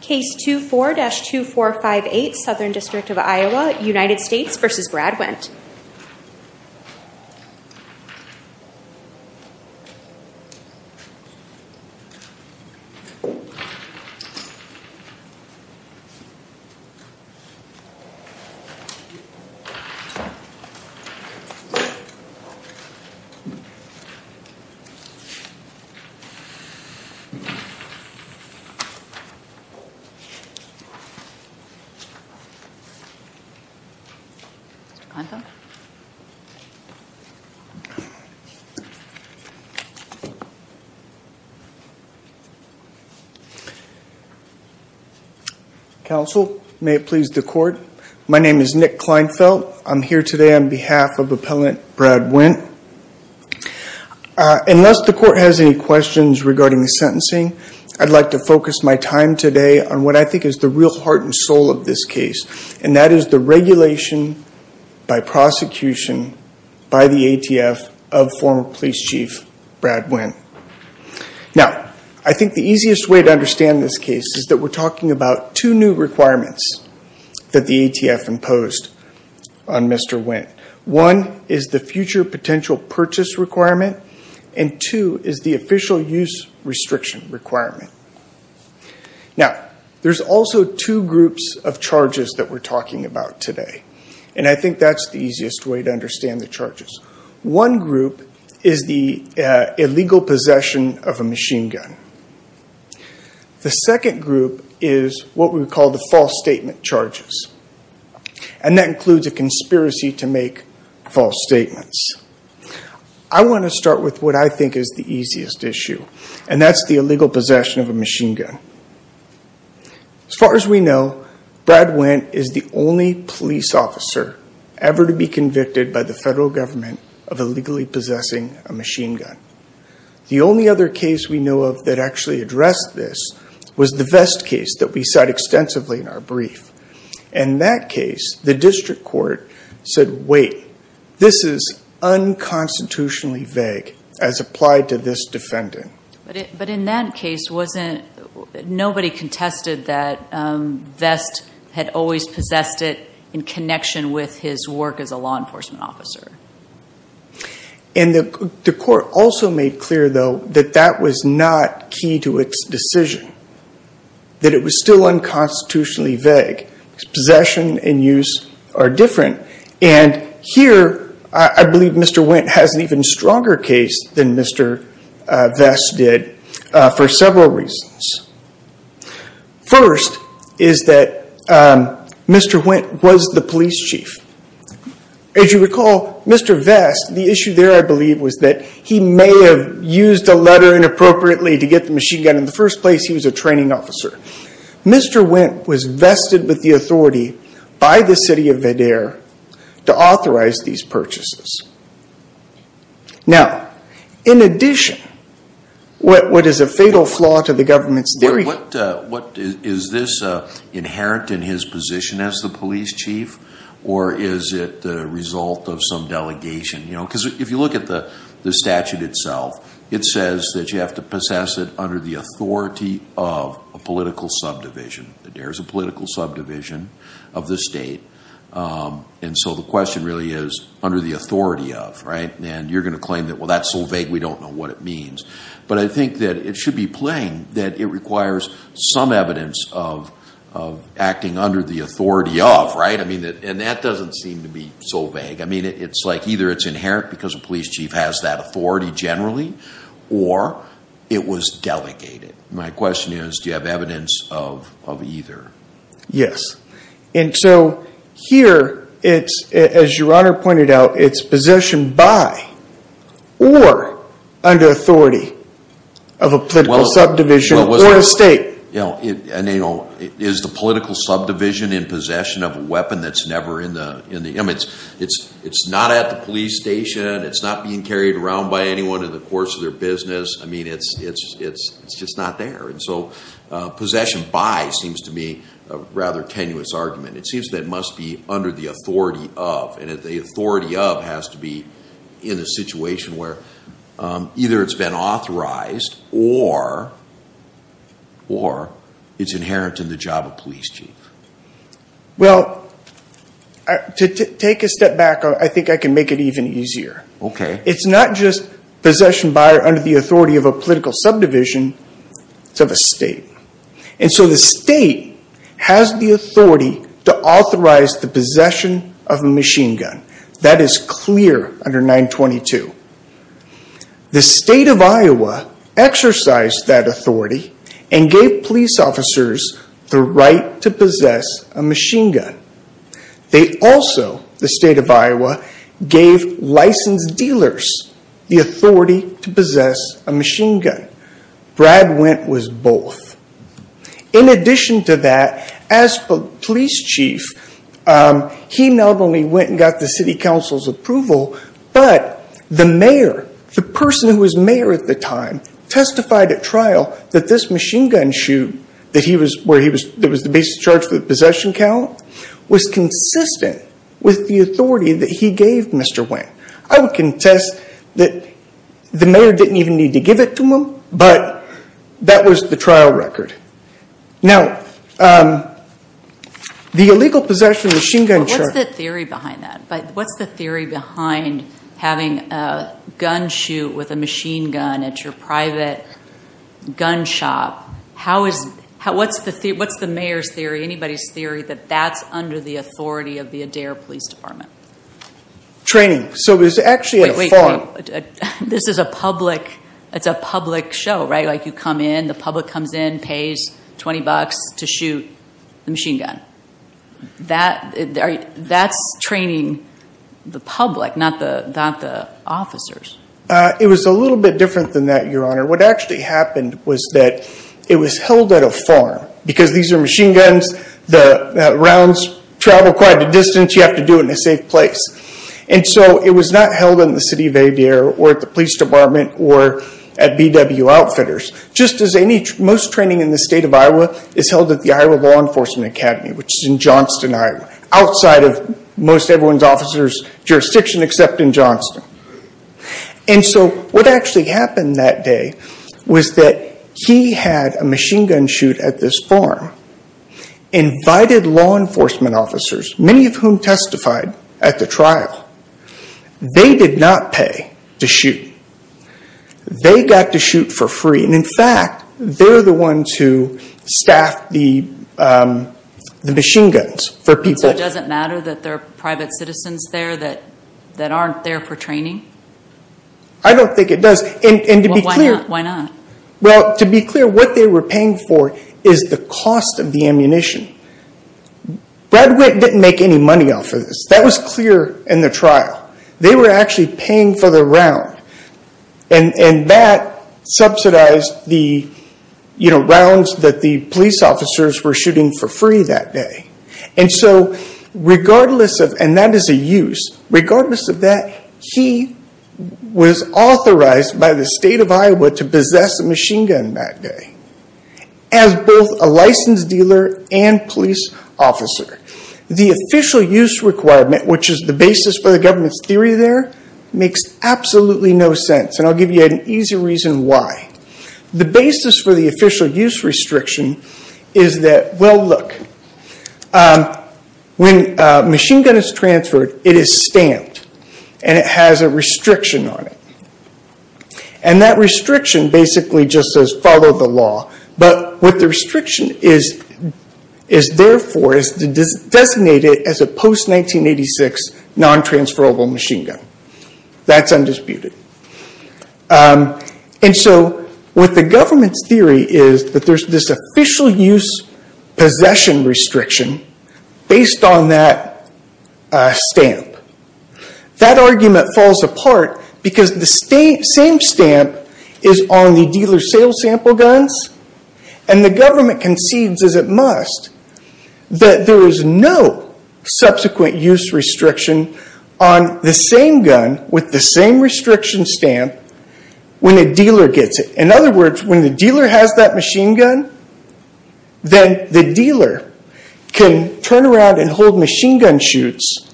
Case 24-2458, Southern District of Iowa, United States v. Brad Wendt Nick Kleinfeld Counsel, may it please the Court. My name is Nick Kleinfeld. I'm here today on behalf of Appellant Brad Wendt. Unless the Court has any questions regarding the sentencing, I'd like to focus my time today on what I think is the real heart and soul of this case, and that is the regulation by prosecution by the ATF of former police chief Brad Wendt. Now, I think the easiest way to understand this case is that we're talking about two new requirements that the ATF imposed on Mr. Wendt. One is the future potential purchase requirement, and two is the official use restriction requirement. Now, there's also two groups of charges that we're talking about today, and I think that's the easiest way to understand the charges. One group is the illegal possession of a machine gun. The second group is what we would call the false statement charges, and that includes a conspiracy to make false statements. I want to start with what I think is the easiest issue, and that's the illegal possession of a machine gun. As far as we know, Brad Wendt is the only police officer ever to be convicted by the federal government of illegally possessing a machine gun. The only other case we know of that actually addressed this was the Vest case that we cite extensively in our brief. In that case, the district court said, wait, this is unconstitutionally vague as applied to this defendant. But in that case, nobody contested that Vest had always possessed it in connection with his work as a law enforcement officer. The court also made clear, though, that that was not key to its decision, that it was still unconstitutionally vague. Possession and use are different. Here, I believe Mr. Wendt has an even stronger case than Mr. Vest did for several reasons. First, is that Mr. Wendt was the police chief. As you recall, Mr. Vest, the issue there, I believe, was that he may have used a letter inappropriately to get the machine gun. In the first place, he was a training officer. Mr. Wendt was vested with the authority by the city of Vidaire to authorize these purchases. Now, in addition, what is a fatal flaw to the government's theory Is this inherent in his position as the police chief, or is it the result of some delegation? Because if you look at the statute itself, it says that you have to possess it under the authority of a political subdivision. Vidaire is a political subdivision of the state. And so the question really is, under the authority of, right? And you're going to claim that, well, that's so vague we don't know what it means. But I think that it should be plain that it requires some evidence of acting under the authority of, right? And that doesn't seem to be so vague. I mean, it's like either it's inherent because the police chief has that authority generally, or it was delegated. My question is, do you have evidence of either? Yes. And so here, as your honor pointed out, it's possession by or under authority of a political subdivision or a state. Is the political subdivision in possession of a weapon that's never in the image? It's not at the police station. It's not being carried around by anyone in the course of their business. I mean, it's just not there. And so possession by seems to be a rather tenuous argument. It seems that it must be under the authority of. And the authority of has to be in a situation where either it's been authorized or it's inherent in the job of police chief. Well, to take a step back, I think I can make it even easier. OK. It's not just possession by or under the authority of a political subdivision. It's of a state. And so the state has the authority to authorize the possession of a machine gun. That is clear under 922. The state of Iowa exercised that authority and gave police officers the right to possess a machine gun. They also, the state of Iowa, gave licensed dealers the authority to possess a machine gun. Brad Wendt was both. In addition to that, as police chief, he not only went and got the city council's approval, but the mayor, the person who was mayor at the time, testified at trial that this machine gun shoot that he was, where he was, that was the basis charge for the possession count, was consistent with the authority that he gave Mr. Wendt. I would contest that the mayor didn't even need to give it to him, but that was the trial record. Now, the illegal possession of a machine gun charge... What's the theory behind that? What's the theory behind having a gun shoot with a machine gun at your private gun shop? What's the mayor's theory, anybody's theory, that that's under the authority of the Adair Police Department? Training. So it was actually at a farm. This is a public, it's a public show, right? Like you come in, the public comes in, pays 20 bucks to shoot the machine gun. That's training the public, not the officers. It was a little bit different than that, Your Honor. What actually happened was that it was held at a farm. Because these are machine guns, the rounds travel quite a distance, you have to do it in a safe place. And so it was not held in the city of Adair, or at the police department, or at BW Outfitters, just as most training in the state of Iowa is held at the Iowa Law Enforcement Academy, which is in Johnston, Iowa, outside of most everyone's officer's jurisdiction except in Johnston. And so what actually happened that day was that he had a machine gun shoot at this farm, invited law enforcement officers, many of whom testified at the trial. They did not pay to shoot. They got to shoot for free. And in fact, they're the ones who staffed the machine guns for people. So it doesn't matter that there are private citizens there that aren't there for training? I don't think it does. And to be clear. Why not? Well, to be clear, what they were paying for is the cost of the ammunition. Brad Witt didn't make any money off of this. That was clear in the trial. They were actually paying for the round. And that subsidized the rounds that the police officers were shooting for free that day. And that is a use. Regardless of that, he was authorized by the state of Iowa to possess a machine gun that day as both a licensed dealer and police officer. The official use requirement, which is the basis for the government's theory there, makes absolutely no sense. And I'll give you an easy reason why. The basis for the official use restriction is that, well, look. When a machine gun is transferred, it is stamped. And it has a restriction on it. And that restriction basically just says, follow the law. But what the restriction is there for is to designate it as a post-1986 non-transferable machine gun. That's undisputed. And so what the government's theory is that there's this official use possession restriction based on that stamp. That argument falls apart because the same stamp is on the dealer's sale sample guns. And the government concedes, as it must, that there is no subsequent use restriction on the same gun with the same restriction stamp when a dealer gets it. In other words, when the dealer has that machine gun, then the dealer can turn around and hold machine gun shoots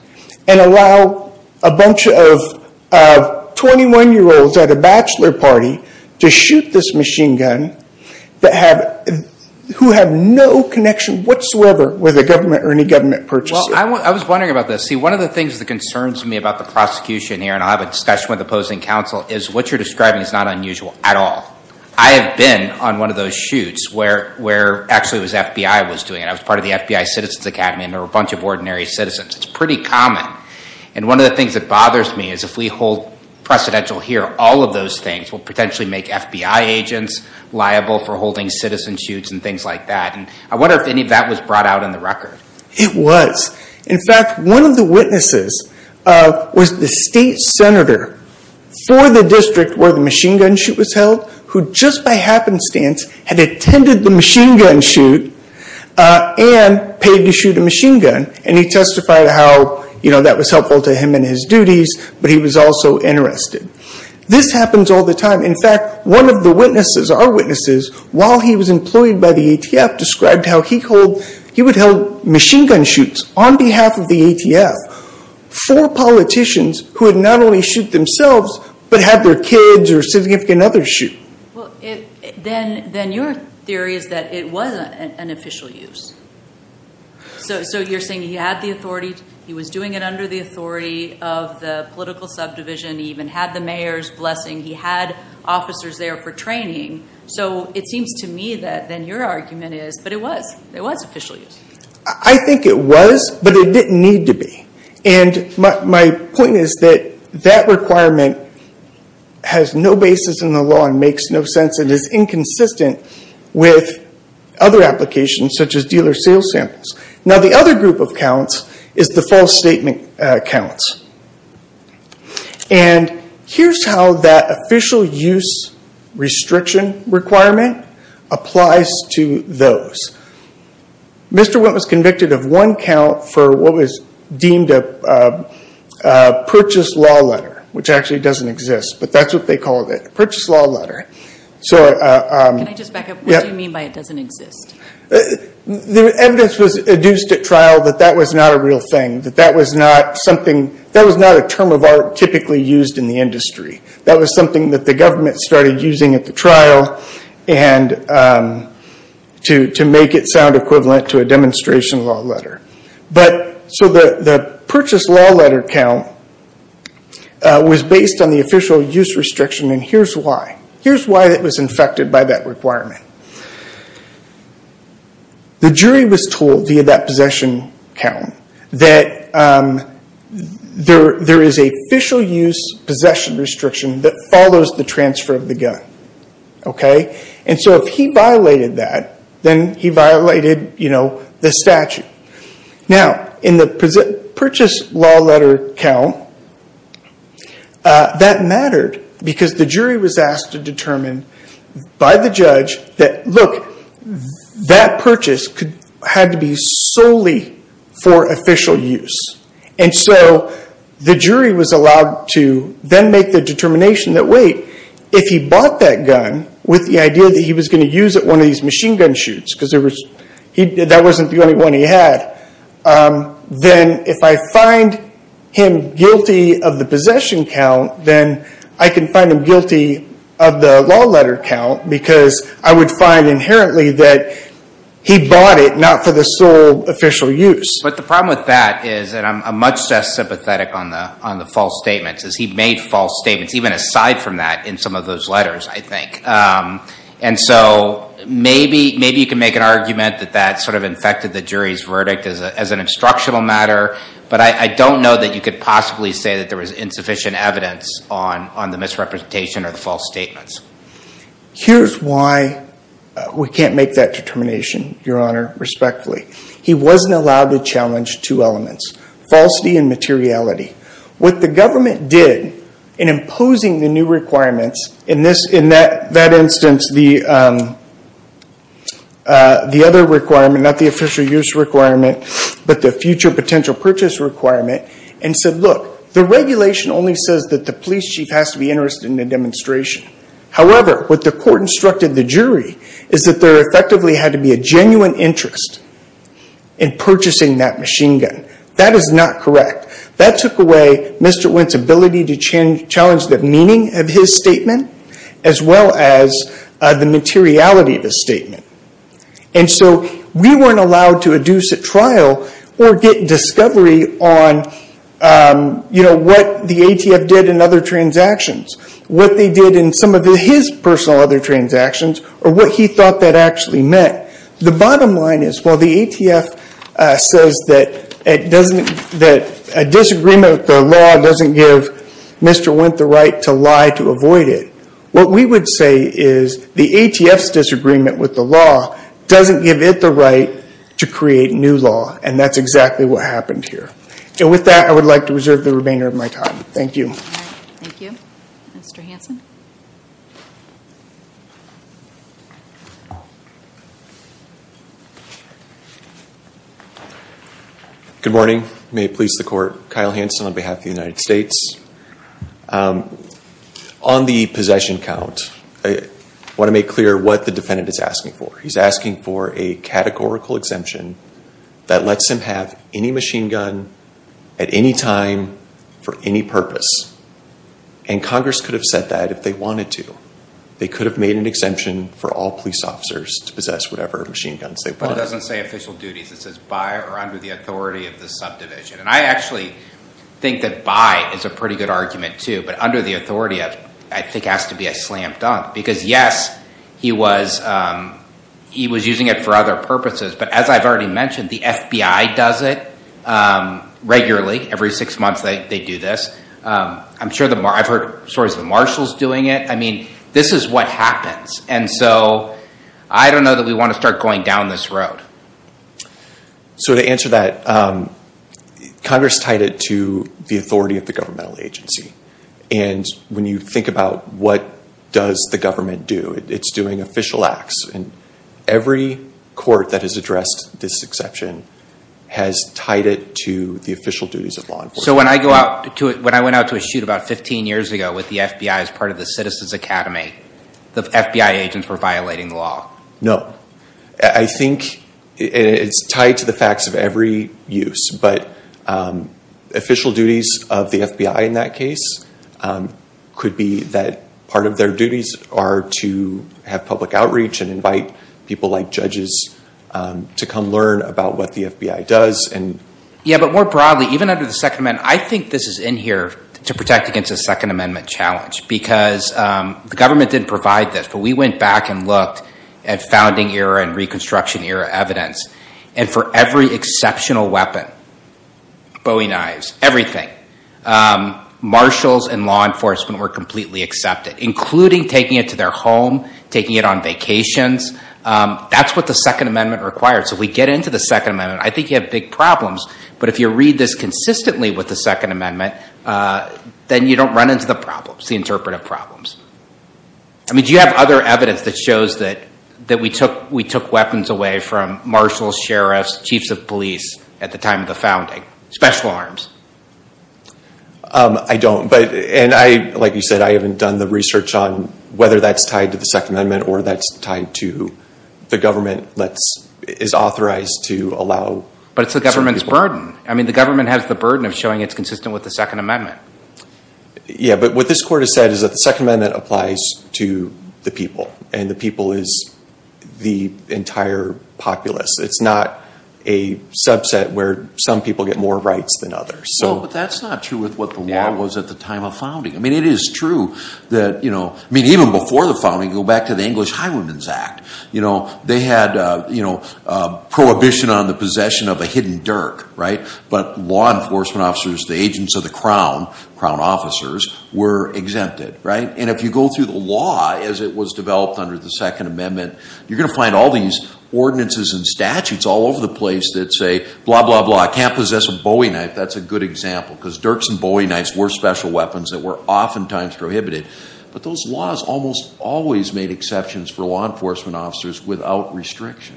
and allow a bunch of 21-year-olds at a bachelor party to shoot this machine gun who have no connection whatsoever with a government or any government purchasing. Well, I was wondering about this. See, one of the things that concerns me about the prosecution here, and I'll have a discussion with opposing counsel, is what you're describing is not unusual at all. I have been on one of those shoots where actually it was FBI was doing it. I was part of the FBI Citizens Academy, and there were a bunch of ordinary citizens. It's pretty common. And one of the things that bothers me is if we hold precedential here, all of those things will potentially make FBI agents liable for holding citizen shoots and things like that. And I wonder if any of that was brought out in the record. It was. In fact, one of the witnesses was the state senator for the district where the machine gun shoot was held who just by happenstance had attended the machine gun shoot and paid to shoot a machine gun. And he testified how that was helpful to him in his duties, but he was also interested. This happens all the time. In fact, one of the witnesses, our witnesses, while he was employed by the ATF, described how he would hold machine gun shoots on behalf of the ATF for politicians who had not only shoot themselves but had their kids or significant others shoot. Then your theory is that it was an official use. So you're saying he had the authority, he was doing it under the authority of the political subdivision, he even had the mayor's blessing, he had officers there for training. So it seems to me that then your argument is, but it was. It was official use. I think it was, but it didn't need to be. And my point is that that requirement has no basis in the law and makes no sense and is inconsistent with other applications such as dealer sales samples. Now the other group of counts is the false statement counts. And here's how that official use restriction requirement applies to those. Mr. Witt was convicted of one count for what was deemed a purchase law letter, which actually doesn't exist, but that's what they called it, a purchase law letter. Can I just back up? What do you mean by it doesn't exist? The evidence was adduced at trial that that was not a real thing, that that was not a term of art typically used in the industry. That was something that the government started using at the trial to make it sound equivalent to a demonstration law letter. So the purchase law letter count was based on the official use restriction, and here's why. Here's why it was infected by that requirement. The jury was told via that possession count that there is a official use possession restriction that follows the transfer of the gun. And so if he violated that, then he violated the statute. Now in the purchase law letter count, that mattered because the jury was asked to determine by the judge that, look, that purchase had to be solely for official use. And so the jury was allowed to then make the determination that, wait, if he bought that gun with the idea that he was going to use it at one of these machine gun shoots, because that wasn't the only one he had, then if I find him guilty of the possession count, then I can find him guilty of the law letter count because I would find inherently that he bought it not for the sole official use. But the problem with that is, and I'm much less sympathetic on the false statements, is he made false statements even aside from that in some of those letters, I think. And so maybe you can make an argument that that sort of infected the jury's verdict as an instructional matter, but I don't know that you could possibly say that there was insufficient evidence on the misrepresentation or the false statements. Here's why we can't make that determination, Your Honor, respectfully. He wasn't allowed to challenge two elements, falsity and materiality. What the government did in imposing the new requirements, in that instance, the other requirement, not the official use requirement, but the future potential purchase requirement, and said, look, the regulation only says that the police chief has to be interested in the demonstration. However, what the court instructed the jury is that there effectively had to be a genuine interest in purchasing that machine gun. That is not correct. That took away Mr. Wendt's ability to challenge the meaning of his statement as well as the materiality of his statement. And so we weren't allowed to induce a trial or get discovery on, you know, what the ATF did in other transactions, what they did in some of his personal other transactions, or what he thought that actually meant. The bottom line is, while the ATF says that a disagreement with the law doesn't give Mr. Wendt the right to lie to avoid it, what we would say is, the ATF's disagreement with the law doesn't give it the right to create new law, and that's exactly what happened here. And with that, I would like to reserve the remainder of my time. Thank you. Thank you. Mr. Hanson. Good morning. May it please the Court. Kyle Hanson on behalf of the United States. On the possession count, I want to make clear what the defendant is asking for. He's asking for a categorical exemption that lets him have any machine gun at any time for any purpose. And Congress could have said that if they wanted to. They could have made an exemption for all police officers to possess whatever machine guns they wanted. It also doesn't say official duties. It says by or under the authority of the subdivision. And I actually think that by is a pretty good argument, too. But under the authority, I think, has to be a slam dunk. Because, yes, he was using it for other purposes. But as I've already mentioned, the FBI does it regularly. Every six months they do this. I've heard stories of the marshals doing it. I mean, this is what happens. And so I don't know that we want to start going down this road. So to answer that, Congress tied it to the authority of the governmental agency. And when you think about what does the government do, it's doing official acts. And every court that has addressed this exception has tied it to the official duties of law enforcement. So when I went out to a shoot about 15 years ago with the FBI as part of the Citizens Academy, the FBI agents were violating the law. I think it's tied to the facts of every use. But official duties of the FBI in that case could be that part of their duties are to have public outreach and invite people like judges to come learn about what the FBI does. Yeah, but more broadly, even under the Second Amendment, I think this is in here to protect against a Second Amendment challenge. Because the government didn't provide this. But we went back and looked at founding era and Reconstruction era evidence. And for every exceptional weapon, Bowie knives, everything, marshals and law enforcement were completely accepted, including taking it to their home, taking it on vacations. That's what the Second Amendment required. So if we get into the Second Amendment, I think you have big problems. But if you read this consistently with the Second Amendment, then you don't run into the problems, the interpretive problems. Do you have other evidence that shows that we took weapons away from marshals, sheriffs, chiefs of police at the time of the founding, special arms? I don't. And like you said, I haven't done the research on whether that's tied to the Second Amendment or that's tied to the government that is authorized to allow… But it's the government's burden. I mean, the government has the burden of showing it's consistent with the Second Amendment. Yeah, but what this court has said is that the Second Amendment applies to the people and the people is the entire populace. It's not a subset where some people get more rights than others. No, but that's not true with what the law was at the time of founding. I mean, it is true that… I mean, even before the founding, go back to the English High Women's Act. You know, they had prohibition on the possession of a hidden dirk, right? But law enforcement officers, the agents of the Crown, Crown officers, were exempted, right? And if you go through the law as it was developed under the Second Amendment, you're going to find all these ordinances and statutes all over the place that say, blah, blah, blah, I can't possess a Bowie knife. That's a good example because dirks and Bowie knives were special weapons that were oftentimes prohibited. But those laws almost always made exceptions for law enforcement officers without restriction.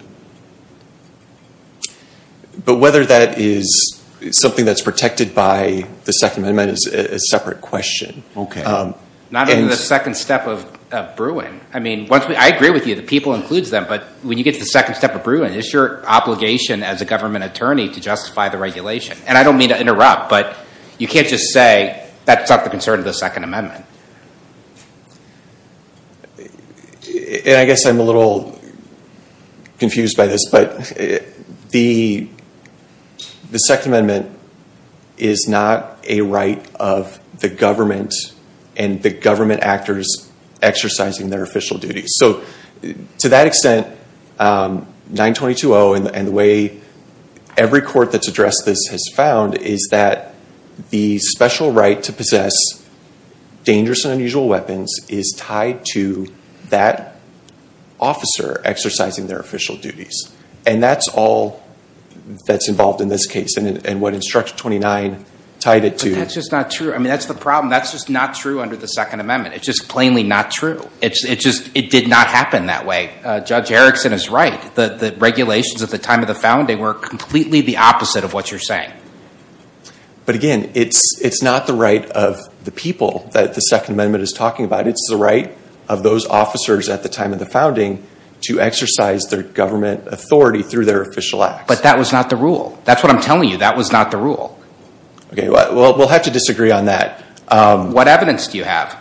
But whether that is something that's protected by the Second Amendment is a separate question. Not in the second step of brewing. I mean, I agree with you, the people includes them, but when you get to the second step of brewing, it's your obligation as a government attorney to justify the regulation. And I don't mean to interrupt, but you can't just say, that's not the concern of the Second Amendment. And I guess I'm a little confused by this, but the Second Amendment is not a right of the government and the government actors exercising their official duties. So to that extent, 922.0 and the way every court that's addressed this has found is that the special right to possess dangerous and unusual weapons is tied to that officer exercising their official duties. And that's all that's involved in this case and what Instructor 29 tied it to. But that's just not true. I mean, that's the problem. That's just not true under the Second Amendment. It's just plainly not true. It did not happen that way. Judge Erickson is right. The regulations at the time of the founding were completely the opposite of what you're saying. But again, it's not the right of the people that the Second Amendment is talking about. It's the right of those officers at the time of the founding to exercise their government authority through their official acts. But that was not the rule. That's what I'm telling you. That was not the rule. Okay, well, we'll have to disagree on that. What evidence do you have?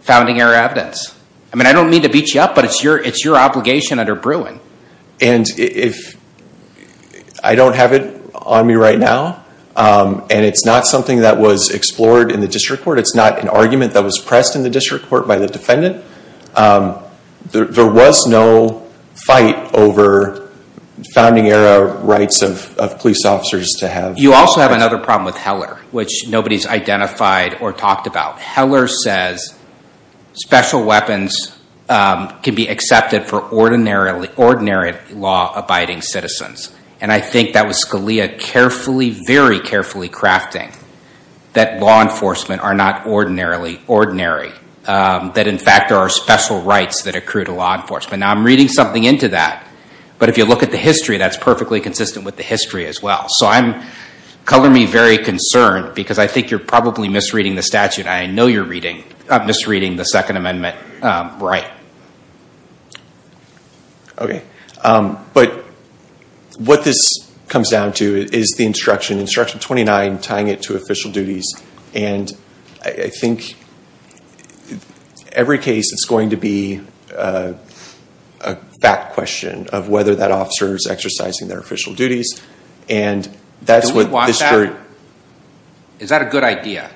Founding error evidence. I mean, I don't mean to beat you up, but it's your obligation under brewing. And if I don't have it on me right now, and it's not something that was explored in the district court, it's not an argument that was pressed in the district court by the defendant, there was no fight over founding error rights of police officers to have. You also have another problem with Heller, which nobody's identified or talked about. Heller says special weapons can be accepted for ordinary law-abiding citizens. And I think that was Scalia carefully, very carefully crafting that law enforcement are not ordinary. That, in fact, there are special rights that accrue to law enforcement. Now, I'm reading something into that, but if you look at the history, that's perfectly consistent with the history as well. So color me very concerned because I think you're probably misreading the statute. I know you're misreading the Second Amendment right. Okay. But what this comes down to is the instruction, Instruction 29, tying it to official duties. And I think every case, it's going to be a fact question of whether that officer is exercising their official duties. Do we want that? Is that a good idea?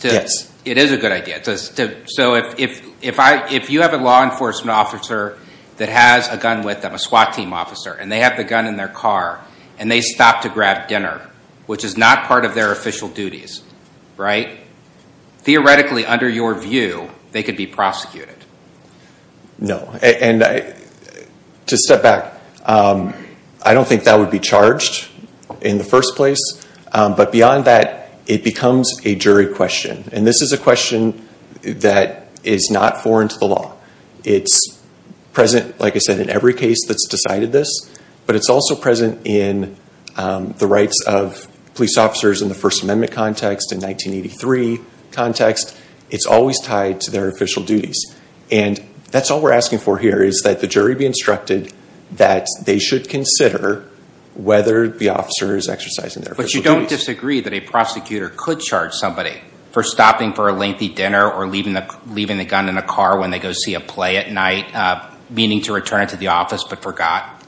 Yes. It is a good idea. So if you have a law enforcement officer that has a gun with them, a SWAT team officer, and they have the gun in their car, and they stop to grab dinner, which is not part of their official duties, right? Theoretically, under your view, they could be prosecuted. No. To step back, I don't think that would be charged in the first place. But beyond that, it becomes a jury question. And this is a question that is not foreign to the law. It's present, like I said, in every case that's decided this. But it's also present in the rights of police officers in the First Amendment context, in 1983 context. It's always tied to their official duties. And that's all we're asking for here, is that the jury be instructed that they should consider whether the officer is exercising their official duties. But you don't disagree that a prosecutor could charge somebody for stopping for a lengthy dinner or leaving the gun in the car when they go see a play at night, meaning to return it to the office but forgot?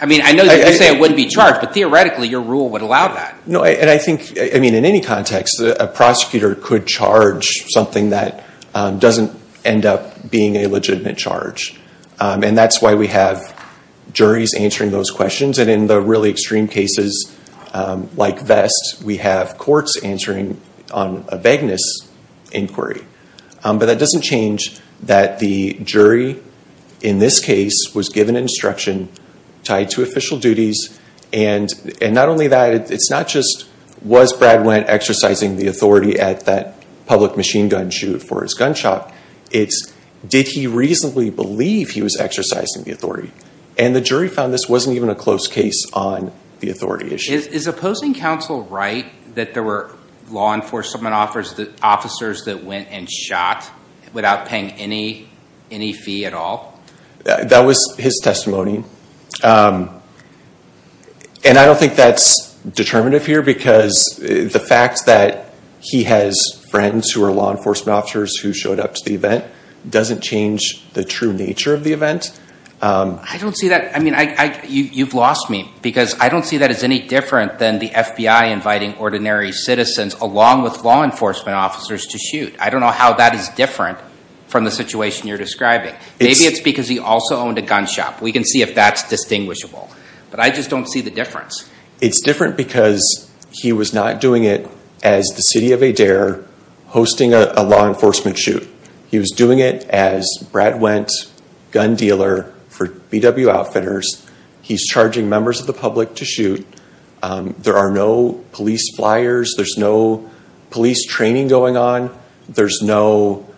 I mean, I know that you say it wouldn't be charged, but theoretically your rule would allow that. No, and I think, I mean, in any context, a prosecutor could charge something that doesn't end up being a legitimate charge. And that's why we have juries answering those questions. And in the really extreme cases, like Vest, we have courts answering on a vagueness inquiry. But that doesn't change that the jury in this case was given instruction tied to official duties. And not only that, it's not just, was Brad Wendt exercising the authority at that public machine gun shoot for his gunshot? It's, did he reasonably believe he was exercising the authority? And the jury found this wasn't even a close case on the authority issue. Is opposing counsel right that there were law enforcement officers that went and shot without paying any fee at all? That was his testimony. And I don't think that's determinative here because the fact that he has friends who are law enforcement officers who showed up to the event doesn't change the true nature of the event. I don't see that, I mean, you've lost me because I don't see that as any different than the FBI inviting ordinary citizens along with law enforcement officers to shoot. I don't know how that is different from the situation you're describing. Maybe it's because he also owned a gun shop. We can see if that's distinguishable. But I just don't see the difference. It's different because he was not doing it as the city of Adair hosting a law enforcement shoot. He was doing it as Brad Wendt, gun dealer for BW Outfitters. He's charging members of the public to shoot. There are no police flyers. There's no police training going on. There's no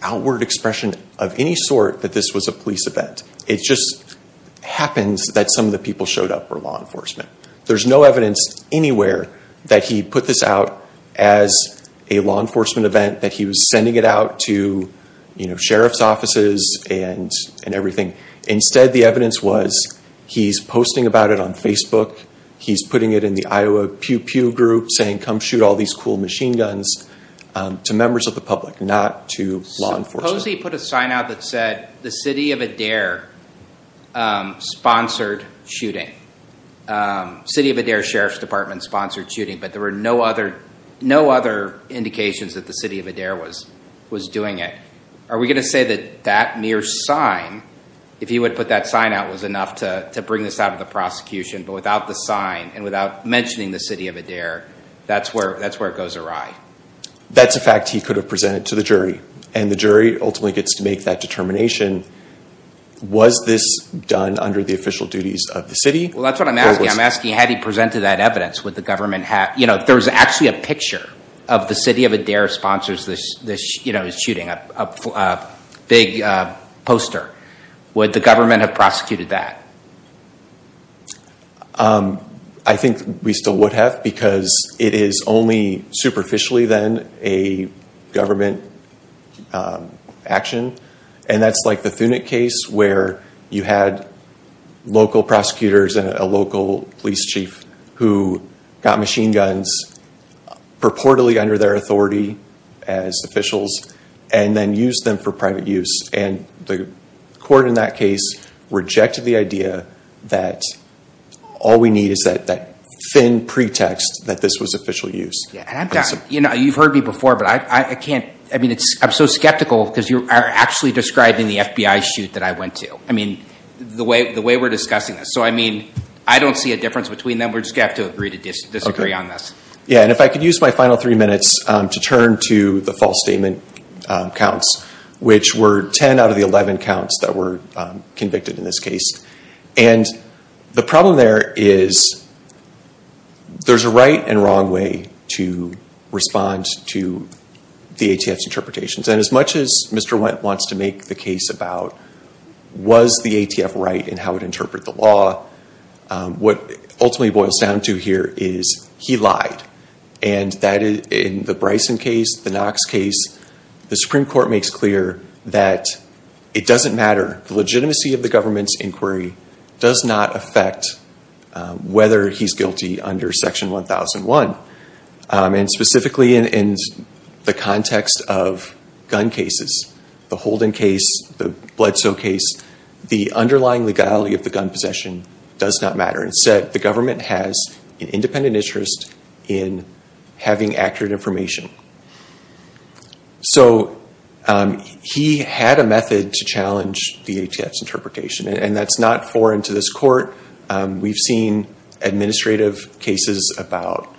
outward expression of any sort that this was a police event. It just happens that some of the people showed up were law enforcement. There's no evidence anywhere that he put this out as a law enforcement event, that he was sending it out to sheriff's offices and everything. Instead, the evidence was he's posting about it on Facebook. He's putting it in the Iowa Pew Pew group saying, come shoot all these cool machine guns to members of the public, not to law enforcement. Suppose he put a sign out that said the city of Adair sponsored shooting. City of Adair Sheriff's Department sponsored shooting, but there were no other indications that the city of Adair was doing it. Are we going to say that that mere sign, if he would put that sign out, was enough to bring this out of the prosecution, but without the sign and without mentioning the city of Adair, that's where it goes awry? That's a fact he could have presented to the jury, and the jury ultimately gets to make that determination. Was this done under the official duties of the city? Well, that's what I'm asking. I'm asking had he presented that evidence, would the government have? There's actually a picture of the city of Adair sponsors this shooting, a big poster. Would the government have prosecuted that? I think we still would have, because it is only superficially then a government action. And that's like the Thunic case, where you had local prosecutors and a local police chief who got machine guns purportedly under their authority as officials, and then used them for private use. And the court in that case rejected the idea that all we need is that thin pretext that this was official use. You've heard me before, but I can't. I mean, I'm so skeptical, because you are actually describing the FBI shoot that I went to. I mean, the way we're discussing this. So, I mean, I don't see a difference between them. We're just going to have to agree to disagree on this. Yeah, and if I could use my final three minutes to turn to the false statement counts, which were 10 out of the 11 counts that were convicted in this case. And the problem there is there's a right and wrong way to respond to the ATF's And as much as Mr. Wendt wants to make the case about, was the ATF right in how it interpreted the law, what it ultimately boils down to here is he lied. And that in the Bryson case, the Knox case, the Supreme Court makes clear that it doesn't matter. The legitimacy of the government's inquiry does not affect whether he's guilty under Section 1001. And specifically in the context of gun cases, the Holden case, the Bledsoe case, the underlying legality of the gun possession does not matter. Instead, the government has an independent interest in having accurate information. So he had a method to challenge the ATF's interpretation, and that's not foreign to this court. We've seen administrative cases about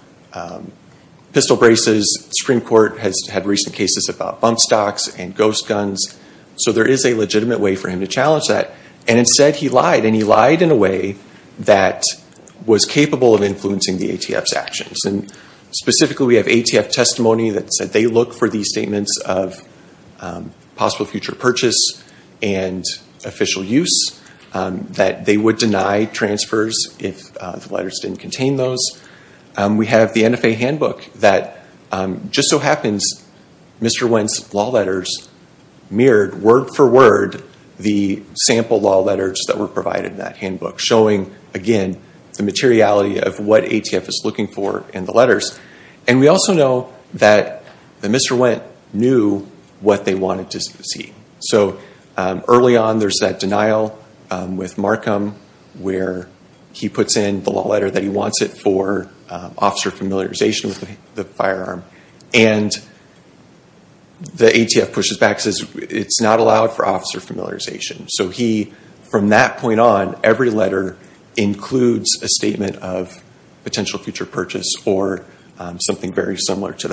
pistol braces. The Supreme Court has had recent cases about bump stocks and ghost guns. So there is a legitimate way for him to challenge that. And instead, he lied. And he lied in a way that was capable of influencing the ATF's actions. And specifically, we have ATF testimony that said they look for these statements of possible future purchase and official use, that they would deny transfers if the letters didn't contain those. We have the NFA handbook that just so happens Mr. Wendt's law letters mirrored word for word the sample law letters that were provided in that handbook, showing, again, the materiality of what ATF is looking for in the letters. And we also know that Mr. Wendt knew what they wanted to see. So early on, there's that denial with Markham, where he puts in the law letter that he wants it for officer familiarization with the firearm, and the ATF pushes back and says, it's not allowed for officer familiarization. So he, from that point on, every letter includes a statement of potential future purchase or something very similar to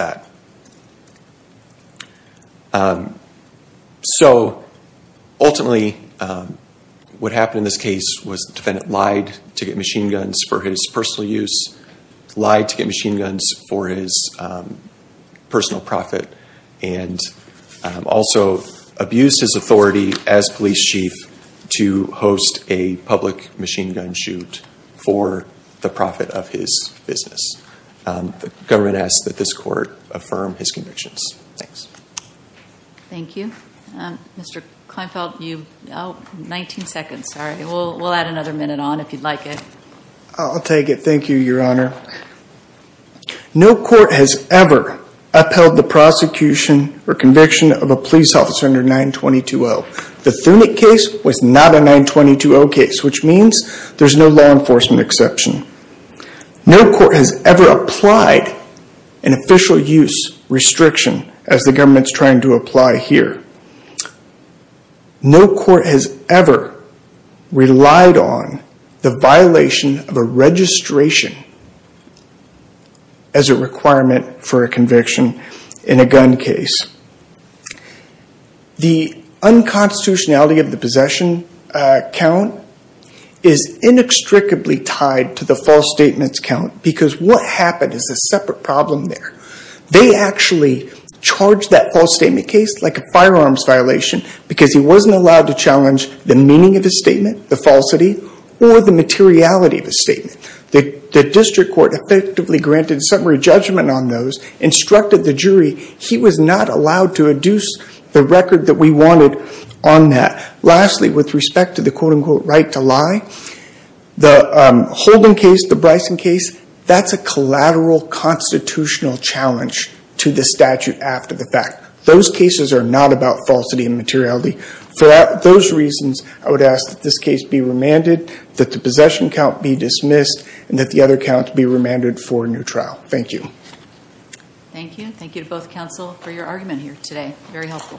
that. So ultimately, what happened in this case was the defendant lied to get machine guns for his personal use, lied to get machine guns for his personal profit, and also abused his authority as police chief to host a public machine gun shoot for the profit of his business. The government asks that this court affirm his convictions. Thanks. Thank you. Mr. Kleinfeld, you have 19 seconds. We'll add another minute on if you'd like it. I'll take it. Thank you, Your Honor. No court has ever upheld the prosecution or conviction of a police officer under 922-0. The Thunic case was not a 922-0 case, which means there's no law enforcement exception. No court has ever applied an official use restriction as the government's trying to apply here. No court has ever relied on the violation of a registration as a requirement for a conviction in a gun case. The unconstitutionality of the possession count is inextricably tied to the false statements count because what happened is a separate problem there. They actually charged that false statement case like a firearms violation because he wasn't allowed to challenge the meaning of his statement, the falsity, or the materiality of his statement. The district court effectively granted a summary judgment on those, instructed the jury. He was not allowed to adduce the record that we wanted on that. Lastly, with respect to the quote-unquote right to lie, the Holden case, the Bryson case, that's a collateral constitutional challenge to the statute after the fact. Those cases are not about falsity and materiality. For those reasons, I would ask that this case be remanded, that the possession count be dismissed, and that the other count be remanded for a new trial. Thank you. Thank you. Thank you to both counsel for your argument here today. Very helpful.